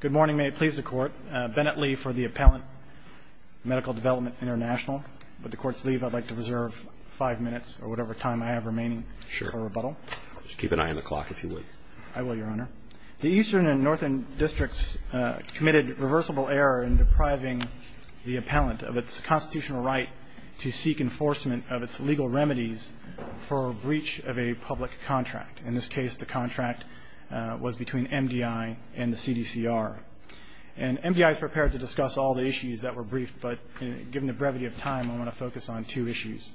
Good morning. May it please the Court. Bennett Lee for the Appellant Medical Development International. With the Court's leave, I'd like to reserve five minutes or whatever time I have remaining for rebuttal. Sure. Just keep an eye on the clock if you would. I will, Your Honor. The Eastern and Northern Districts committed reversible error in depriving the appellant of its constitutional right to seek enforcement of its legal remedies for breach of a public contract. In this case, the contract was between MDI and the CDCR. And MDI is prepared to discuss all the issues that were briefed, but given the brevity of time, I want to focus on two issues.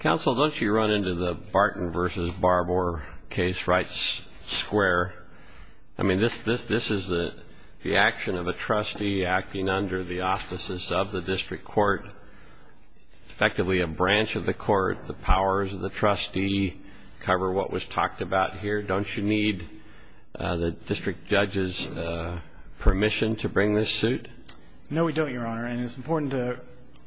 Counsel, don't you run into the Barton v. Barbour case right square? I mean, this is the action of a trustee acting under the auspices of the District Court, effectively a branch of the Court. The powers of the trustee cover what was talked about here. Don't you need the District Judge's permission to bring this suit? No, we don't, Your Honor. And it's important to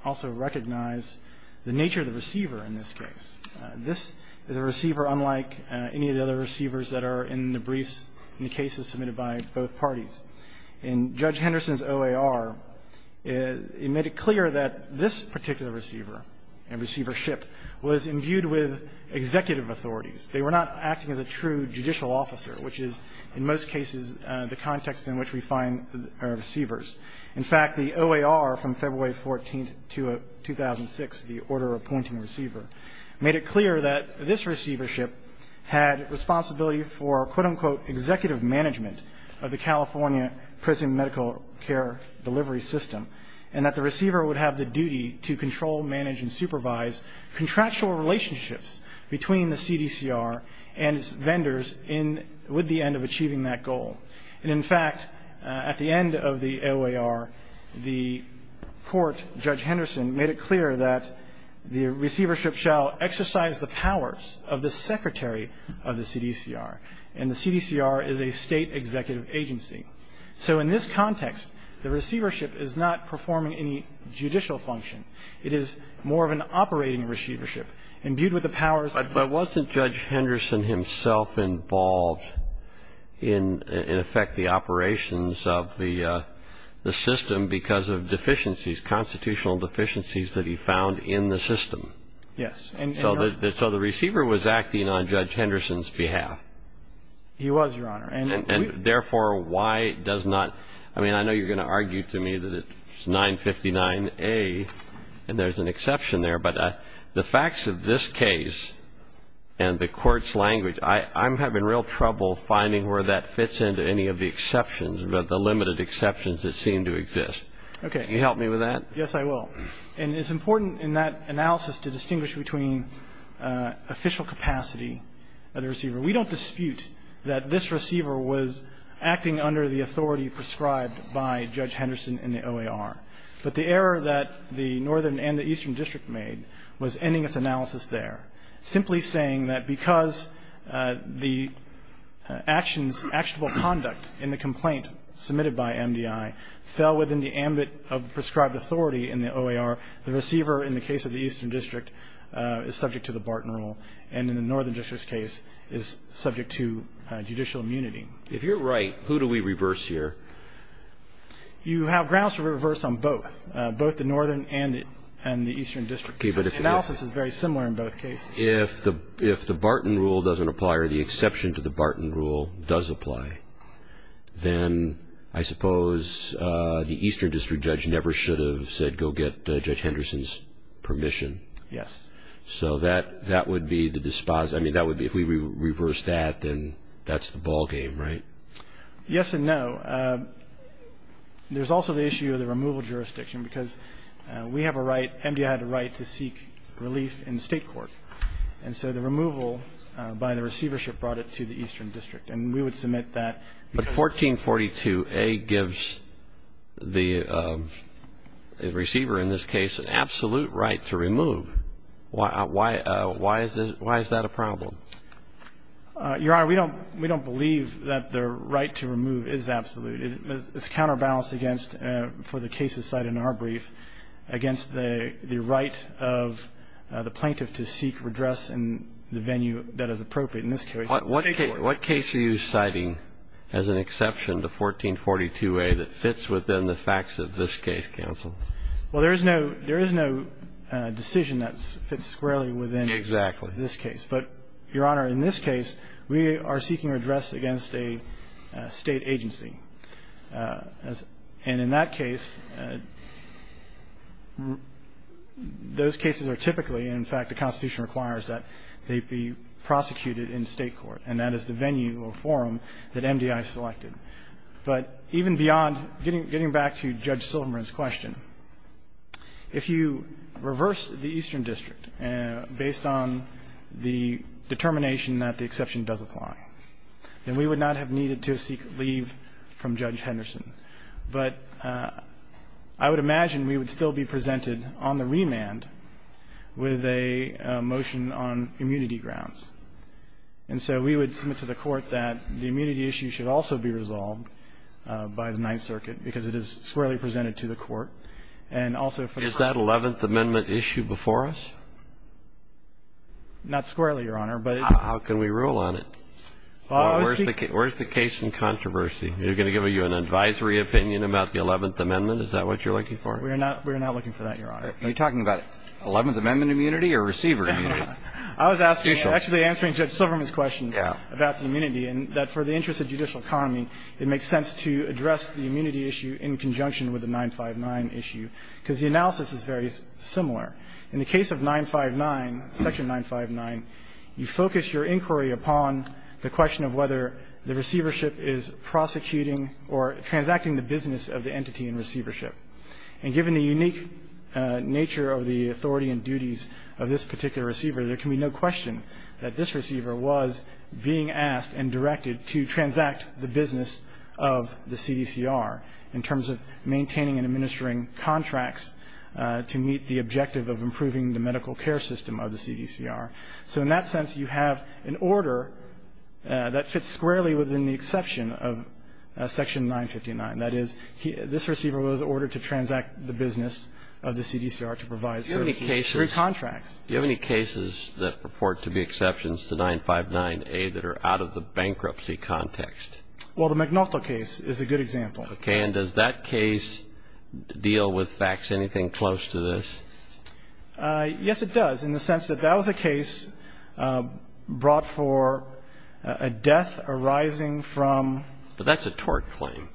also recognize the nature of the receiver in this case. This is a receiver unlike any of the other receivers that are in the briefs in the cases submitted by both parties. In Judge Henderson's OAR, it made it clear that this particular receiver and receivership was imbued with executive authorities. They were not acting as a true judicial officer, which is in most cases the context in which we find receivers. In fact, the OAR from February 14th, 2006, the Order Appointing Receiver, made it clear that this receivership had responsibility for, quote, unquote, executive management of the California prison medical care delivery system, and that the receiver would have the duty to control, manage, and supervise contractual relationships between the CDCR and its vendors with the end of achieving that goal. And, in fact, at the end of the OAR, the Court Judge Henderson made it clear that the receivership shall exercise the powers of the Secretary of the CDCR, and the CDCR is a State executive agency. So in this context, the receivership is not performing any judicial function. It is more of an operating receivership imbued with the powers of the State Executive Agency. But wasn't Judge Henderson himself involved in, in effect, the operations of the system because of deficiencies, constitutional deficiencies that he found in the system? Yes. So the receiver was acting on Judge Henderson's behalf. He was, Your Honor. And therefore, why does not – I mean, I know you're going to argue to me that it's 959A, and there's an exception there, but the facts of this case and the Court's language, I'm having real trouble finding where that fits into any of the exceptions, but the limited exceptions that seem to exist. Okay. Can you help me with that? Yes, I will. And it's important in that analysis to distinguish between official capacity of the receiver. We don't dispute that this receiver was acting under the authority prescribed by Judge Henderson in the OAR. But the error that the Northern and the Eastern District made was ending its analysis there, simply saying that because the actions, actionable conduct in the complaint submitted by MDI fell within the ambit of prescribed authority in the OAR, the receiver in the case of the Eastern District is subject to the Barton Rule, and in the Northern District's case is subject to judicial immunity. If you're right, who do we reverse here? You have grounds to reverse on both, both the Northern and the Eastern District, because the analysis is very similar in both cases. If the Barton Rule doesn't apply or the exception to the Barton Rule does apply, then I suppose the Eastern District judge never should have said, go get Judge Henderson's permission. Yes. So that would be the disposition. I mean, that would be, if we reverse that, then that's the ballgame, right? Yes and no. There's also the issue of the removal jurisdiction, because we have a right, MDI had a right to seek relief in the state court, and so the removal by the receivership brought it to the Eastern District, and we would submit that. But 1442A gives the receiver in this case an absolute right to remove. Why is that a problem? Your Honor, we don't believe that the right to remove is absolute. It's counterbalanced against, for the cases cited in our brief, against the right of the plaintiff to seek redress in the venue that is appropriate. In this case, it's state court. What case are you citing as an exception to 1442A that fits within the facts of this case, counsel? Well, there is no decision that fits squarely within this case. Exactly. But, Your Honor, in this case, we are seeking redress against a state agency. And in that case, those cases are typically, in fact, the Constitution requires that they be prosecuted in state court, and that is the venue or forum that MDI selected. But even beyond, getting back to Judge Silverman's question, if you reverse the Eastern District Circuit, based on the determination that the exception does apply, then we would not have needed to seek leave from Judge Henderson. But I would imagine we would still be presented on the remand with a motion on immunity grounds. And so we would submit to the Court that the immunity issue should also be resolved by the Ninth Circuit, because it is squarely presented to the Court. And also for the Court to decide whether to have the 11th Amendment issue before us? Not squarely, Your Honor, but the Court should decide whether to have the 11th Amendment issue before us. How can we rule on it? Where's the case in controversy? Are you going to give me an advisory opinion about the 11th Amendment? Is that what you're looking for? We're not looking for that, Your Honor. Are you talking about 11th Amendment immunity or receiver immunity? I was actually answering Judge Silverman's question about the immunity, and that for the interest of judicial economy, it makes sense to address the immunity issue in conjunction with the 959 issue, because the analysis is very similar. In the case of 959, Section 959, you focus your inquiry upon the question of whether the receivership is prosecuting or transacting the business of the entity in receivership. And given the unique nature of the authority and duties of this particular receiver, there can be no question that this receiver was being asked and directed to transact the business of the CDCR in terms of maintaining and administering contracts to meet the objective of improving the medical care system of the CDCR. So in that sense, you have an order that fits squarely within the exception of Section 959. That is, this receiver was ordered to transact the business of the CDCR to provide services through contracts. Do you have any cases that purport to be exceptions to 959A that are out of the bankruptcy context? Well, the McNaughton case is a good example. Okay. And does that case deal with facts anything close to this? Yes, it does, in the sense that that was a case brought for a death arising from But that's a tort claim.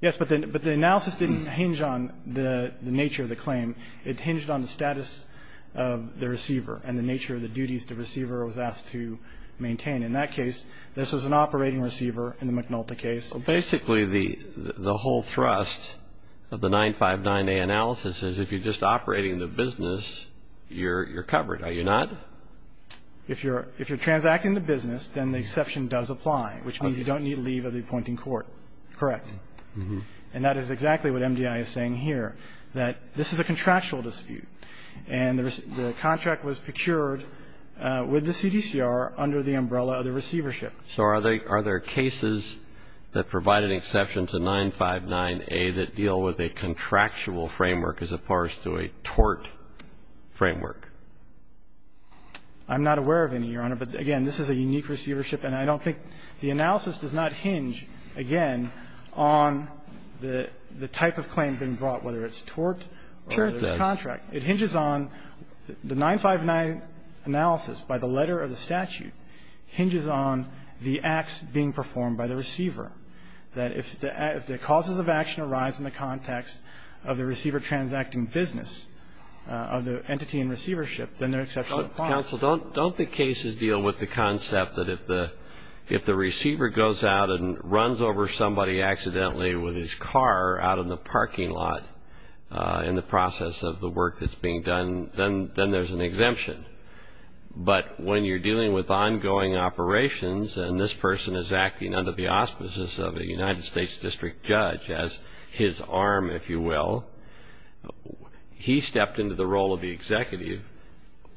Yes, but the analysis didn't hinge on the nature of the claim. It hinged on the status of the receiver and the nature of the duties the receiver was asked to maintain. In that case, this was an operating receiver in the McNaughton case. So basically, the whole thrust of the 959A analysis is if you're just operating the business, you're covered, are you not? If you're transacting the business, then the exception does apply, which means you don't need leave of the appointing court, correct. And that is exactly what MDI is saying here, that this is a contractual dispute. And the contract was procured with the CDCR under the umbrella of the receivership. So are there cases that provide an exception to 959A that deal with a contractual framework as opposed to a tort framework? I'm not aware of any, Your Honor, but, again, this is a unique receivership. And I don't think the analysis does not hinge, again, on the type of claim being brought, whether it's tort or there's contract. It hinges on the 959 analysis by the letter of the statute hinges on the acts being performed by the receiver, that if the causes of action arise in the context of the receiver transacting business of the entity in receivership, then there's an exception to the clause. Counsel, don't the cases deal with the concept that if the receiver goes out and runs over somebody accidentally with his car out in the parking lot in the process of the work that's being done, then there's an exemption? But when you're dealing with ongoing operations and this person is acting under the auspices of a United States district judge as his arm, if you will, he stepped into the role of the executive,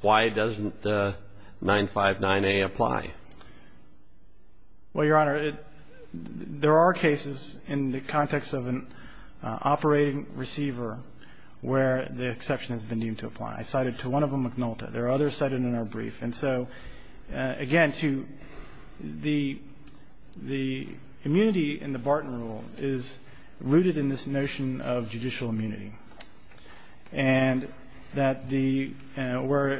why doesn't 959A apply? Well, Your Honor, there are cases in the context of an operating receiver where the exception has been deemed to apply. I cited to one of them McNulty. There are others cited in our brief. And so, again, to the immunity in the Barton rule is rooted in this notion of judicial immunity and that the – where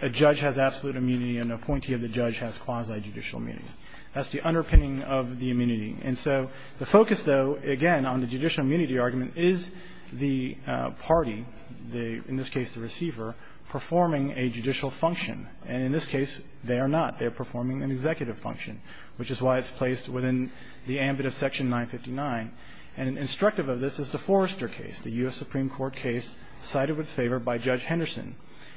a judge has absolute immunity and an appointee of the judge has quasi-judicial immunity. That's the underpinning of the immunity. And so the focus, though, again, on the judicial immunity argument is the party, in this case the receiver, performing a judicial function. And in this case, they are not. They are performing an executive function, which is why it's placed within the ambit of Section 959. And instructive of this is the Forrester case, the U.S. Supreme Court case cited with favor by Judge Henderson.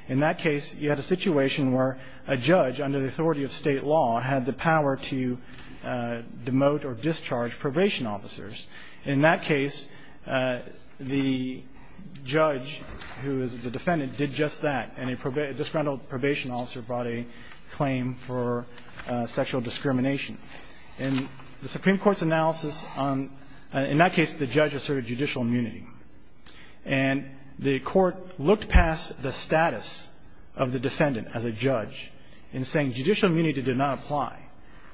In that case, you had a situation where a judge under the authority of state law had the power to demote or discharge probation officers. In that case, the judge who is the defendant did just that, and a disgrounded probation officer brought a claim for sexual discrimination. In the Supreme Court's analysis on – in that case, the judge asserted judicial immunity. And the court looked past the status of the defendant as a judge in saying judicial immunity did not apply,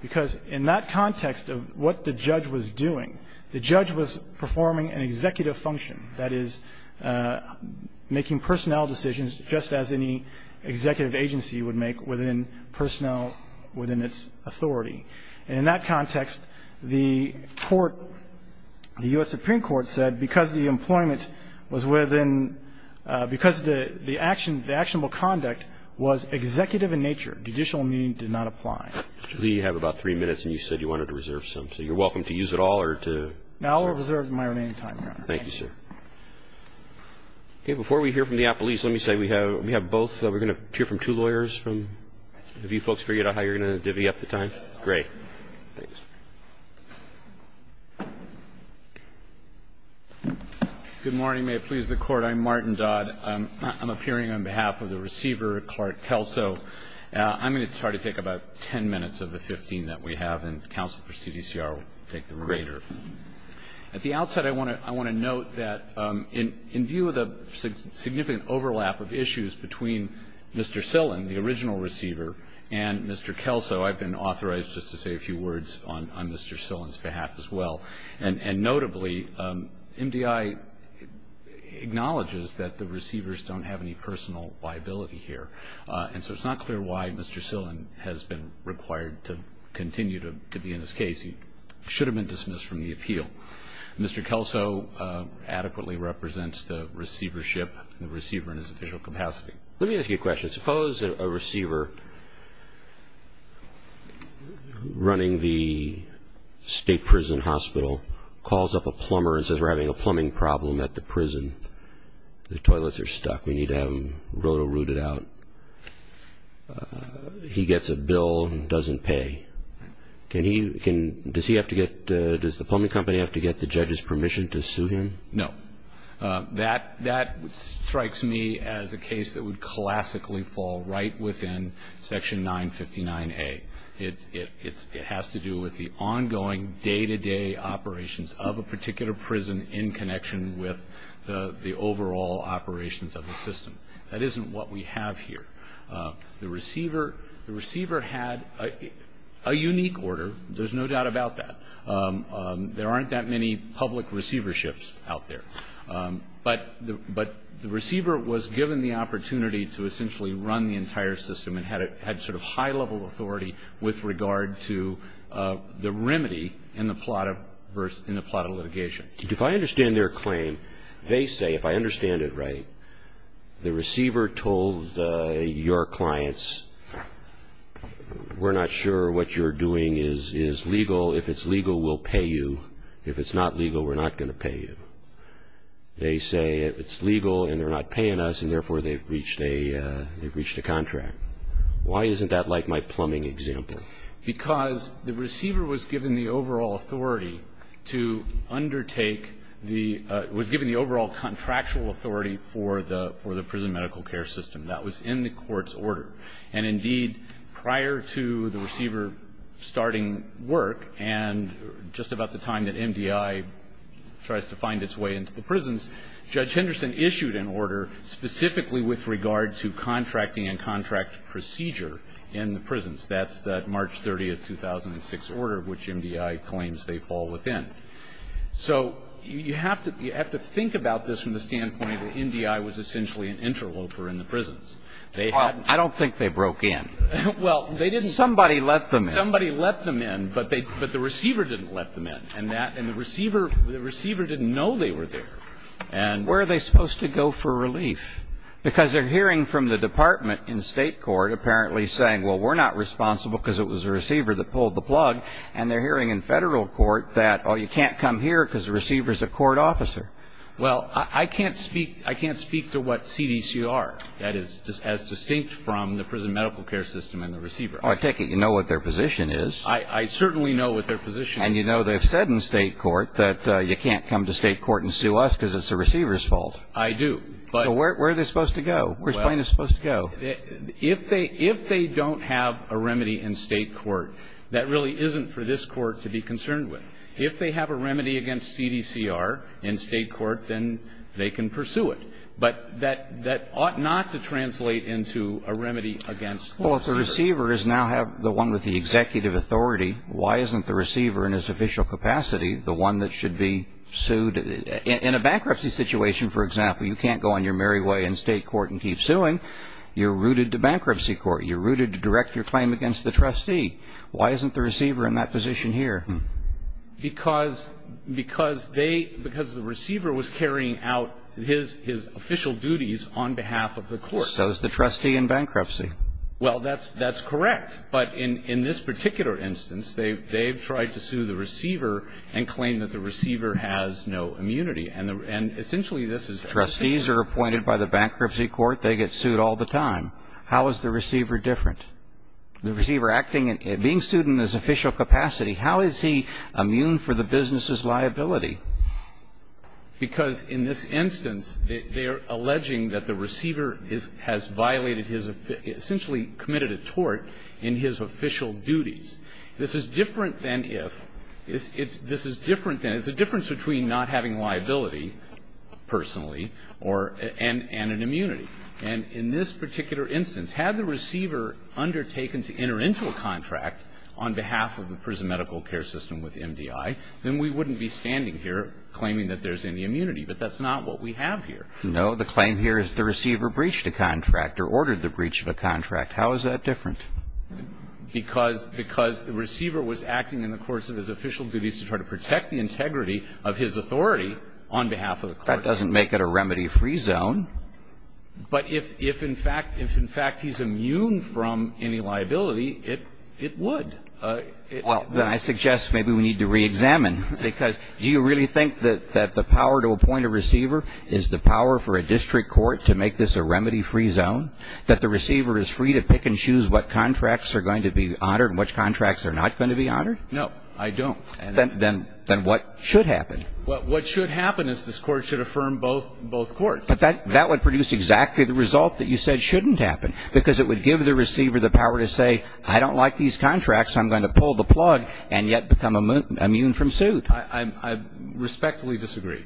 because in that context of what the judge was doing, the judge was performing an executive function, that is, making personnel decisions just as any executive agency would make within personnel – within its authority. And in that context, the court – the U.S. Supreme Court said because the employment was within – because the action – the employment was within the jurisdiction of the state law, the judge did not apply. in saying judicial immunity did not apply. Mr. Lee, you have about three minutes, and you said you wanted to reserve some. So you're welcome to use it all, or to reserve. No, I'll reserve my remaining time, Your Honor. Thank you, sir. Okay, before we hear from the apolice, let me say we have – we have both – we're going to hear from two lawyers from – have you folks figured out how you're going to divvy up the time? Great. Thanks. Good morning. May it please the Court. I'm Martin Dodd. I'm appearing on behalf of the receiver, Clark Kelso. I'm going to try to take about 10 minutes of the 15 that we have, and counsel for CDCR will take the remainder. At the outset, I want to – I want to note that in view of the significant overlap of issues between Mr. Sillin, the original receiver, and Mr. Kelso, I've been authorized just to say a few words on Mr. Sillin's behalf as well. And notably, MDI acknowledges that the receivers don't have any personal liability here, and so it's not clear why Mr. Sillin has been required to continue to be in this case. He should have been dismissed from the appeal. Mr. Kelso adequately represents the receivership – the receiver in his official capacity. Let me ask you a question. Suppose a receiver running the state prison hospital calls up a plumber and says, we're having a plumbing problem at the prison. The toilets are stuck. We need to have them roto-rooted out. He gets a bill and doesn't pay. Can he – does he have to get – does the plumbing company have to get the judge's permission to sue him? No. That strikes me as a case that would classically fall right within Section 959A. It has to do with the ongoing day-to-day operations of a particular prison in connection with the overall operations of the system. That isn't what we have here. The receiver – the receiver had a unique order. There's no doubt about that. There aren't that many public receiverships out there. But the receiver was given the opportunity to essentially run the entire system and had sort of high-level authority with regard to the remedy in the plot of litigation. If I understand their claim, they say, if I understand it right, the receiver told your clients, we're not sure what you're doing is legal. If it's legal, we'll pay you. If it's not legal, we're not going to pay you. They say it's legal and they're not paying us, and therefore, they've reached a – they've reached a contract. Why isn't that like my plumbing example? Because the receiver was given the overall authority to undertake the – was given the overall contractual authority for the – for the prison medical care system. That was in the court's order. And indeed, prior to the receiver starting work and just about the time that MDI tries to find its way into the prisons, Judge Henderson issued an order specifically with regard to contracting and contract procedure in the prisons. That's that March 30, 2006 order, which MDI claims they fall within. So you have to – you have to think about this from the standpoint that MDI was essentially an interloper in the prisons. They had – I don't think they broke in. Well, they didn't – Somebody let them in. Somebody let them in, but they – but the receiver didn't let them in. And that – and the receiver – the receiver didn't know they were there. And – Where are they supposed to go for relief? Because they're hearing from the department in state court apparently saying, well, we're not responsible because it was the receiver that pulled the plug. And they're hearing in federal court that, oh, you can't come here because the receiver's a court officer. Well, I can't speak – I can't speak to what CDCR, that is, as distinct from the prison medical care system and the receiver. Oh, I take it you know what their position is. I certainly know what their position is. And you know they've said in state court that you can't come to state court and sue us because it's the receiver's fault. I do. So where are they supposed to go? Where's plaintiff supposed to go? If they – if they don't have a remedy in state court, that really isn't for this court to be concerned with. If they have a remedy against CDCR in state court, then they can pursue it. But that – that ought not to translate into a remedy against the receiver. Well, if the receiver is now the one with the executive authority, why isn't the receiver in his official capacity the one that should be sued? In a bankruptcy situation, for example, you can't go on your merry way in state court and keep suing. You're rooted to bankruptcy court. You're rooted to direct your claim against the trustee. Why isn't the receiver in that position here? Because – because they – because the receiver was carrying out his – his official duties on behalf of the court. So is the trustee in bankruptcy. Well, that's – that's correct. But in – in this particular instance, they've – they've tried to sue the receiver and claim that the receiver has no immunity. And the – and essentially this is – Trustees are appointed by the bankruptcy court. They get sued all the time. How is the receiver different? The receiver acting – being sued in his official capacity, how is he immune for the business's liability? Because in this instance, they are alleging that the receiver is – has violated his – essentially committed a tort in his official duties. This is different than if – this is different than – it's a difference between not having liability personally or – and an immunity. And in this particular instance, had the receiver undertaken to enter into a contract on behalf of the prison medical care system with MDI, then we wouldn't be standing here claiming that there's any immunity. But that's not what we have here. No. The claim here is the receiver breached a contract or ordered the breach of a contract. How is that different? Because – because the receiver was acting in the course of his official duties to try to protect the integrity of his authority on behalf of the court. That doesn't make it a remedy-free zone. But if – if in fact – if in fact he's immune from any liability, it – it would. Well, then I suggest maybe we need to re-examine, because do you really think that – that the power to appoint a receiver is the power for a district court to make this a remedy-free zone? That the receiver is free to pick and choose what contracts are going to be honored and which contracts are not going to be honored? No, I don't. Then – then – then what should happen? Well, what should happen is this court should affirm both – both courts. But that – that would produce exactly the result that you said shouldn't happen, because it would give the receiver the power to say, I don't like these contracts, I'm going to pull the plug, and yet become immune from suit. I – I respectfully disagree,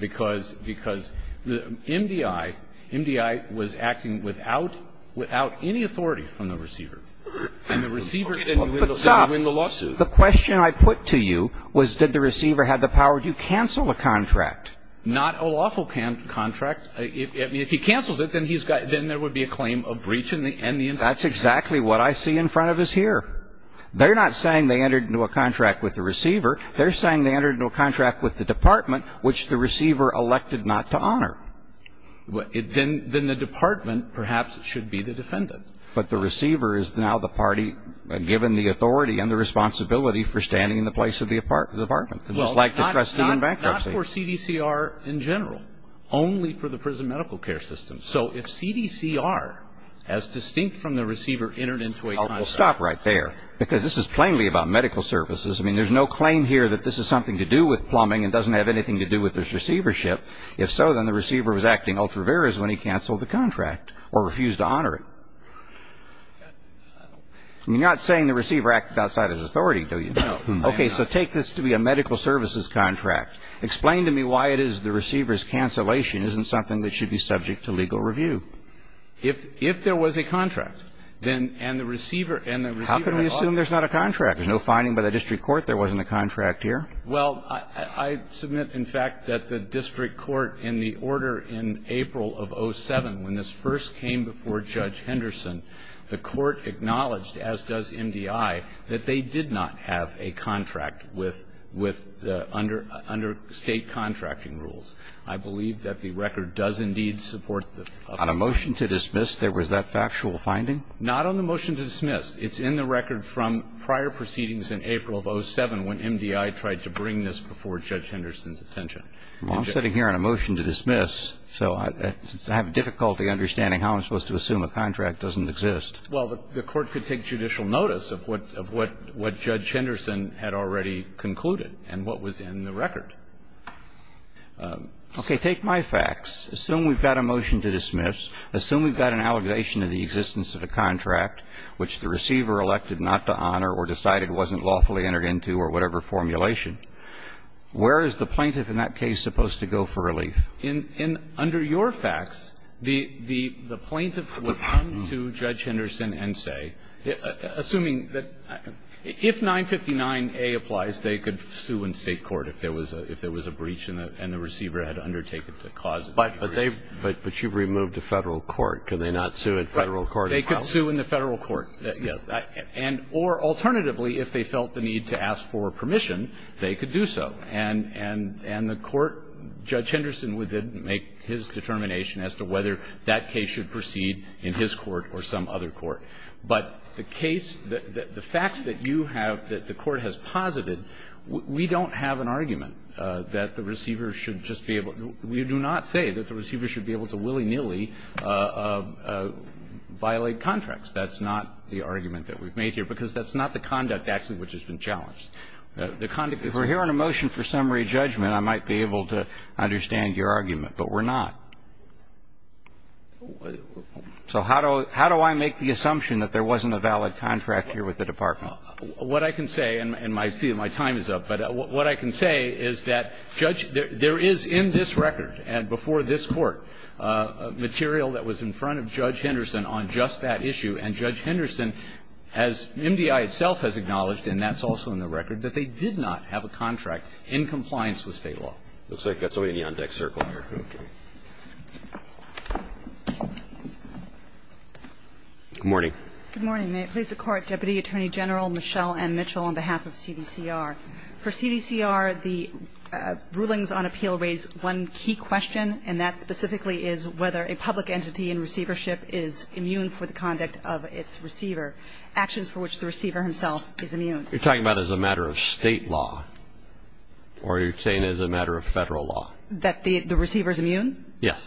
because – because the MDI – MDI was acting without – without any authority from the receiver. And the receiver can win the lawsuit. But stop. The question I put to you was did the receiver have the power to cancel a contract? Not a lawful contract. If – I mean, if he cancels it, then he's got – then there would be a claim of breach in the – in the institution. That's exactly what I see in front of us here. They're not saying they entered into a contract with the receiver. They're saying they entered into a contract with the department, which the receiver elected not to honor. Well, it – then – then the department, perhaps, should be the defendant. But the receiver is now the party, given the authority and the responsibility for standing in the place of the department. It's just like the trustee in bankruptcy. Not for CDCR in general. Only for the prison medical care system. So if CDCR, as distinct from the receiver, entered into a contract – Well, stop right there. Because this is plainly about medical services. I mean, there's no claim here that this is something to do with plumbing and doesn't have anything to do with this receivership. If so, then the receiver was acting ultra veris when he canceled the contract or refused to honor it. You're not saying the receiver acted outside his authority, do you? No. Okay. So take this to be a medical services contract. Explain to me why it is the receiver's cancellation isn't something that should be subject to legal review. If – if there was a contract, then – and the receiver – and the receiver – How can we assume there's not a contract? There's no finding by the district court there wasn't a contract here. Well, I – I submit, in fact, that the district court, in the order in April of 07, when this first came before Judge Henderson, the court acknowledged, as does MDI, that they did not have a contract with – with – under state contracting rules. I believe that the record does indeed support the – On a motion to dismiss, there was that factual finding? Not on the motion to dismiss. It's in the record from prior proceedings in April of 07, when MDI tried to bring this before Judge Henderson's attention. Well, I'm sitting here on a motion to dismiss, so I have difficulty understanding how I'm supposed to assume a contract. It doesn't exist. Well, the court could take judicial notice of what – of what – what Judge Henderson had already concluded and what was in the record. Okay. Take my facts. Assume we've got a motion to dismiss. Assume we've got an allegation of the existence of a contract which the receiver elected not to honor or decided wasn't lawfully entered into or whatever formulation. Where is the plaintiff in that case supposed to go for relief? In – in – under your facts, the – the plaintiff would come to Judge Henderson and say, assuming that – if 959A applies, they could sue in state court if there was a – if there was a breach and the receiver had undertaken to cause it. But they've – but you've removed the Federal court. Can they not sue in Federal court? They could sue in the Federal court, yes. And – or alternatively, if they felt the need to ask for permission, they could do so. And – and the court – Judge Henderson would then make his determination as to whether that case should proceed in his court or some other court. But the case – the facts that you have, that the court has posited, we don't have an argument that the receiver should just be able – we do not say that the receiver should be able to willy-nilly violate contracts. That's not the argument that we've made here, because that's not the conduct, actually, which has been challenged. The conduct is – If we're hearing a motion for summary judgment, I might be able to understand your argument. But we're not. So how do – how do I make the assumption that there wasn't a valid contract here with the Department? What I can say – and my – see, my time is up. But what I can say is that Judge – there is in this record and before this Court material that was in front of Judge Henderson on just that issue. And Judge Henderson has – MDI itself has acknowledged, and that's also in the record, that they did not have a contract in compliance with State law. Looks like it's already a Neon Deck circle here. Okay. Good morning. Good morning. May it please the Court, Deputy Attorney General Michelle M. Mitchell, on behalf of CDCR. For CDCR, the rulings on appeal raise one key question, and that specifically is whether a public entity in receivership is immune for the conduct of its receiver, actions for which the receiver himself is immune. You're talking about as a matter of State law, or you're saying as a matter of Federal law? That the receiver is immune? Yes.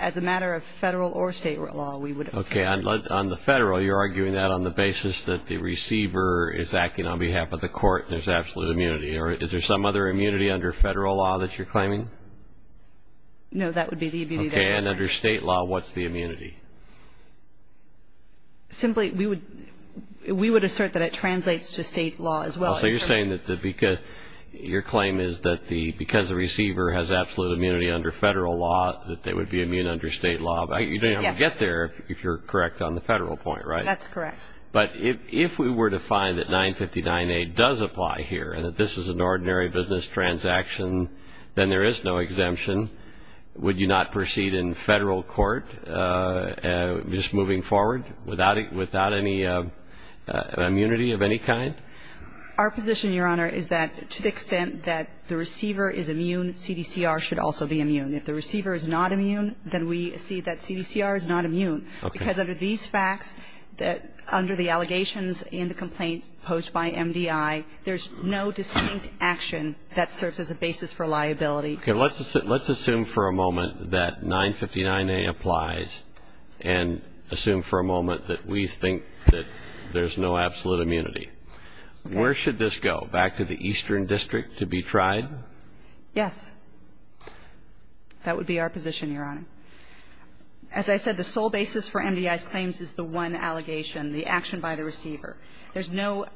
As a matter of Federal or State law, we would – Okay. On the Federal, you're arguing that on the basis that the receiver is acting on behalf of the Court and there's absolute immunity. Or is there some other immunity under Federal law that you're claiming? No, that would be the immunity that I'm arguing. Okay. And under State law, what's the immunity? Simply, we would – we would assert that it translates to State law as well. So you're saying that the – your claim is that the – because the receiver has absolute immunity under Federal law, that they would be immune under State law? Yes. You don't even get there, if you're correct, on the Federal point, right? That's correct. But if we were to find that 959A does apply here and that this is an ordinary business transaction, then there is no exemption. Would you not proceed in Federal court, just moving forward, without any immunity of any kind? Our position, Your Honor, is that to the extent that the receiver is immune, CDCR should also be immune. If the receiver is not immune, then we see that CDCR is not immune. Okay. Because under these facts, that – under the allegations in the complaint posed by MDI, there's no distinct action that serves as a basis for liability. Okay. Let's assume for a moment that 959A applies and assume for a moment that we think that there's no absolute immunity. Okay. Where should this go? Back to the Eastern District to be tried? Yes. That would be our position, Your Honor. As I said, the sole basis for MDI's claims is the one allegation, the action by the receiver. There's no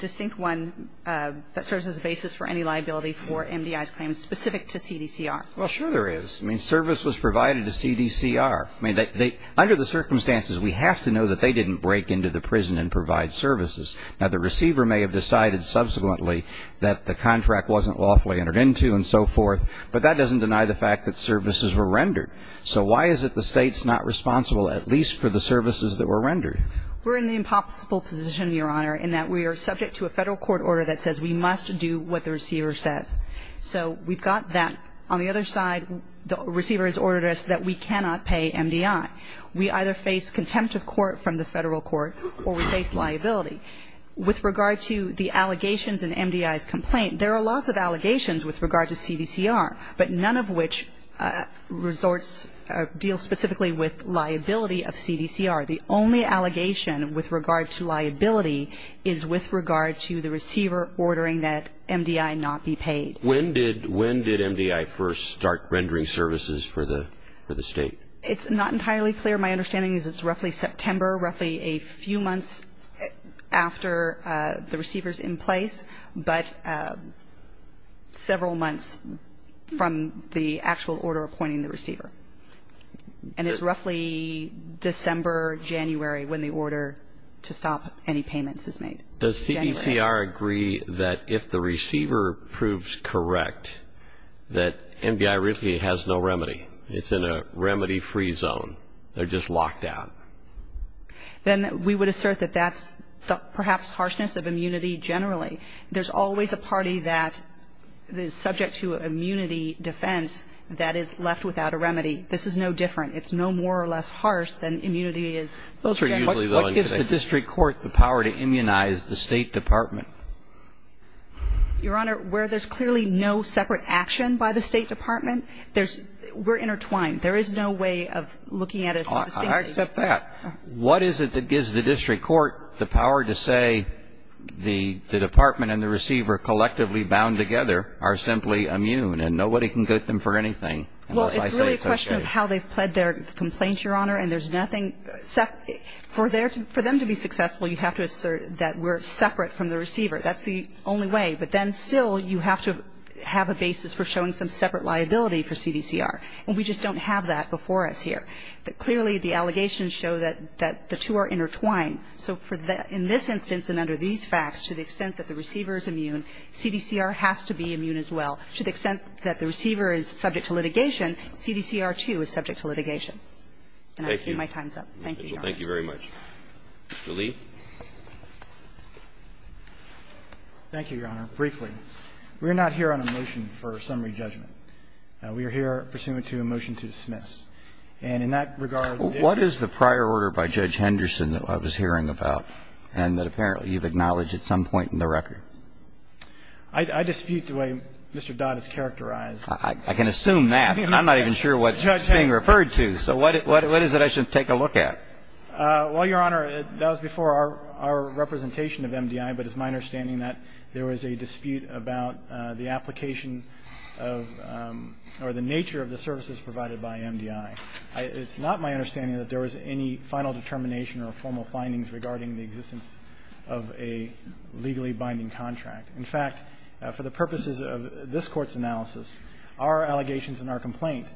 distinct one that serves as a basis for any liability for MDI's claims specific to CDCR. Well, sure there is. I mean, service was provided to CDCR. I mean, they – under the circumstances, we have to know that they didn't break into the prison and provide services. Now, the receiver may have decided subsequently that the contract wasn't lawfully entered into and so forth, but that doesn't deny the fact that services were rendered. So why is it the state's not responsible at least for the services that were rendered? We're in the impossible position, Your Honor, in that we are subject to a federal court order that says we must do what the receiver says. So we've got that. On the other side, the receiver has ordered us that we cannot pay MDI. We either face contempt of court from the federal court or we face liability. With regard to the allegations in MDI's complaint, there are lots of allegations with regard to CDCR, but none of which deal specifically with liability of CDCR. The only allegation with regard to liability is with regard to the receiver ordering that MDI not be paid. When did MDI first start rendering services for the state? It's not entirely clear. My understanding is it's roughly September, roughly a few months after the receiver's in place, but several months from the actual order appointing the receiver. And it's roughly December, January when the order to stop any payments is made. Does CDCR agree that if the receiver proves correct that MDI really has no remedy? It's in a remedy-free zone. They're just locked out. Then we would assert that that's perhaps harshness of immunity generally. There's always a party that is subject to immunity defense that is left without a remedy. This is no different. It's no more or less harsh than immunity is. What gives the district court the power to immunize the State Department? Your Honor, where there's clearly no separate action by the State Department, we're intertwined. There is no way of looking at it so distinctly. I accept that. What is it that gives the district court the power to say the Department and the receiver collectively bound together are simply immune, and nobody can get them for anything unless I say it's okay? Well, it's really a question of how they've pled their complaint, Your Honor, and there's nothing separate. For them to be successful, you have to assert that we're separate from the receiver. That's the only way. But then still, you have to have a basis for showing some separate liability for CDCR. And we just don't have that before us here. Clearly, the allegations show that the two are intertwined. So for the – in this instance and under these facts, to the extent that the receiver is immune, CDCR has to be immune as well. To the extent that the receiver is subject to litigation, CDCR, too, is subject to litigation. And I've seen my time's up. Thank you, Your Honor. Thank you very much. Mr. Lee. Thank you, Your Honor. Briefly, we're not here on a motion for summary judgment. We are here pursuant to a motion to dismiss. And in that regard – What is the prior order by Judge Henderson that I was hearing about and that apparently you've acknowledged at some point in the record? I dispute the way Mr. Dodd has characterized – I can assume that. I'm not even sure what's being referred to. So what is it I should take a look at? Well, Your Honor, that was before our representation of MDI. But it's my understanding that there was a dispute about the application of – or the nature of the services provided by MDI. It's not my understanding that there was any final determination or formal findings regarding the existence of a legally binding contract. In fact, for the purposes of this Court's analysis, our allegations in our complaint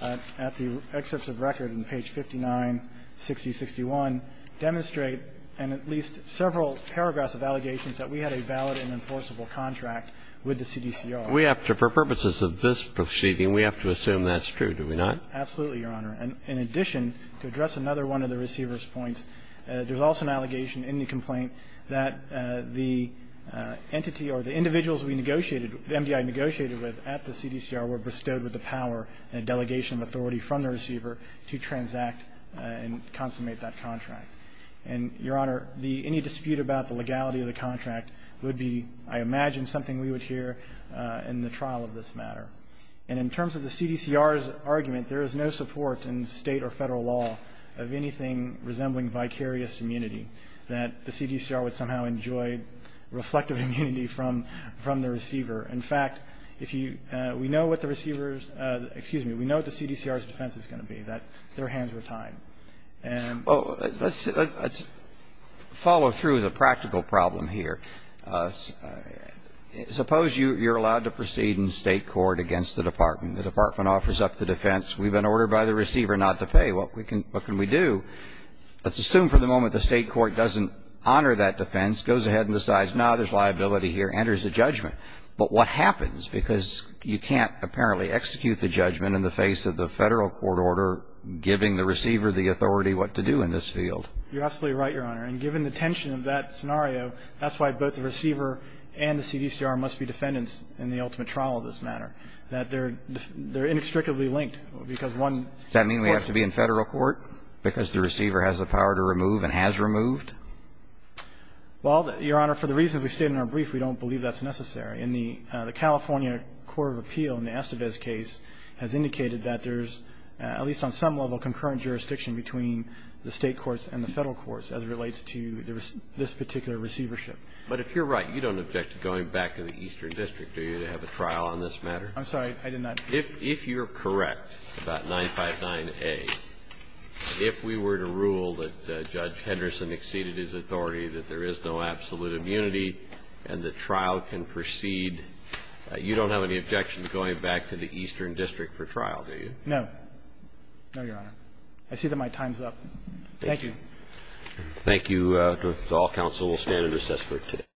at the excerpts of record in page 596061 demonstrate, in at least several paragraphs of allegations, that we had a valid and enforceable contract with the CDCR. We have to – for purposes of this proceeding, we have to assume that's true, do we not? Absolutely, Your Honor. In addition, to address another one of the receiver's points, there's also an allegation in the complaint that the entity or the individuals we negotiated – MDI negotiated with at the CDCR were bestowed with the power and delegation of authority from the receiver to transact and consummate that contract. And, Your Honor, the – any dispute about the legality of the contract would be, I imagine, something we would hear in the trial of this matter. And in terms of the CDCR's argument, there is no support in State or Federal law of anything resembling vicarious immunity, that the CDCR would somehow enjoy reflective immunity from the receiver. In fact, if you – we know what the receiver's – excuse me, we know what the CDCR's defense is going to be, that their hands were tied. And – Let's follow through the practical problem here. Suppose you're allowed to proceed in State court against the Department. The Department offers up the defense. We've been ordered by the receiver not to pay. What can we do? Let's assume for the moment the State court doesn't honor that defense, goes ahead and decides, no, there's liability here, enters the judgment. But what happens? Because you can't apparently execute the judgment in the face of the Federal court order giving the receiver the authority what to do in this field. You're absolutely right, Your Honor. And given the tension of that scenario, that's why both the receiver and the CDCR must be defendants in the ultimate trial of this matter, that they're inextricably linked, because one – Does that mean we have to be in Federal court, because the receiver has the power to remove and has removed? Well, Your Honor, for the reasons we stated in our brief, we don't believe that's necessary. In the California Court of Appeal, in the Estevez case, has indicated that there's, at least on some level, concurrent jurisdiction between the State courts and the Federal courts as it relates to this particular receivership. But if you're right, you don't object to going back to the Eastern District, do you, to have a trial on this matter? I'm sorry. I did not. If you're correct about 959A, if we were to rule that Judge Henderson exceeded his authority, that there is no absolute immunity and the trial can proceed, you don't have any objections going back to the Eastern District for trial, do you? No. No, Your Honor. I see that my time's up. Thank you. Thank you. The All-Council will stand in recess for today.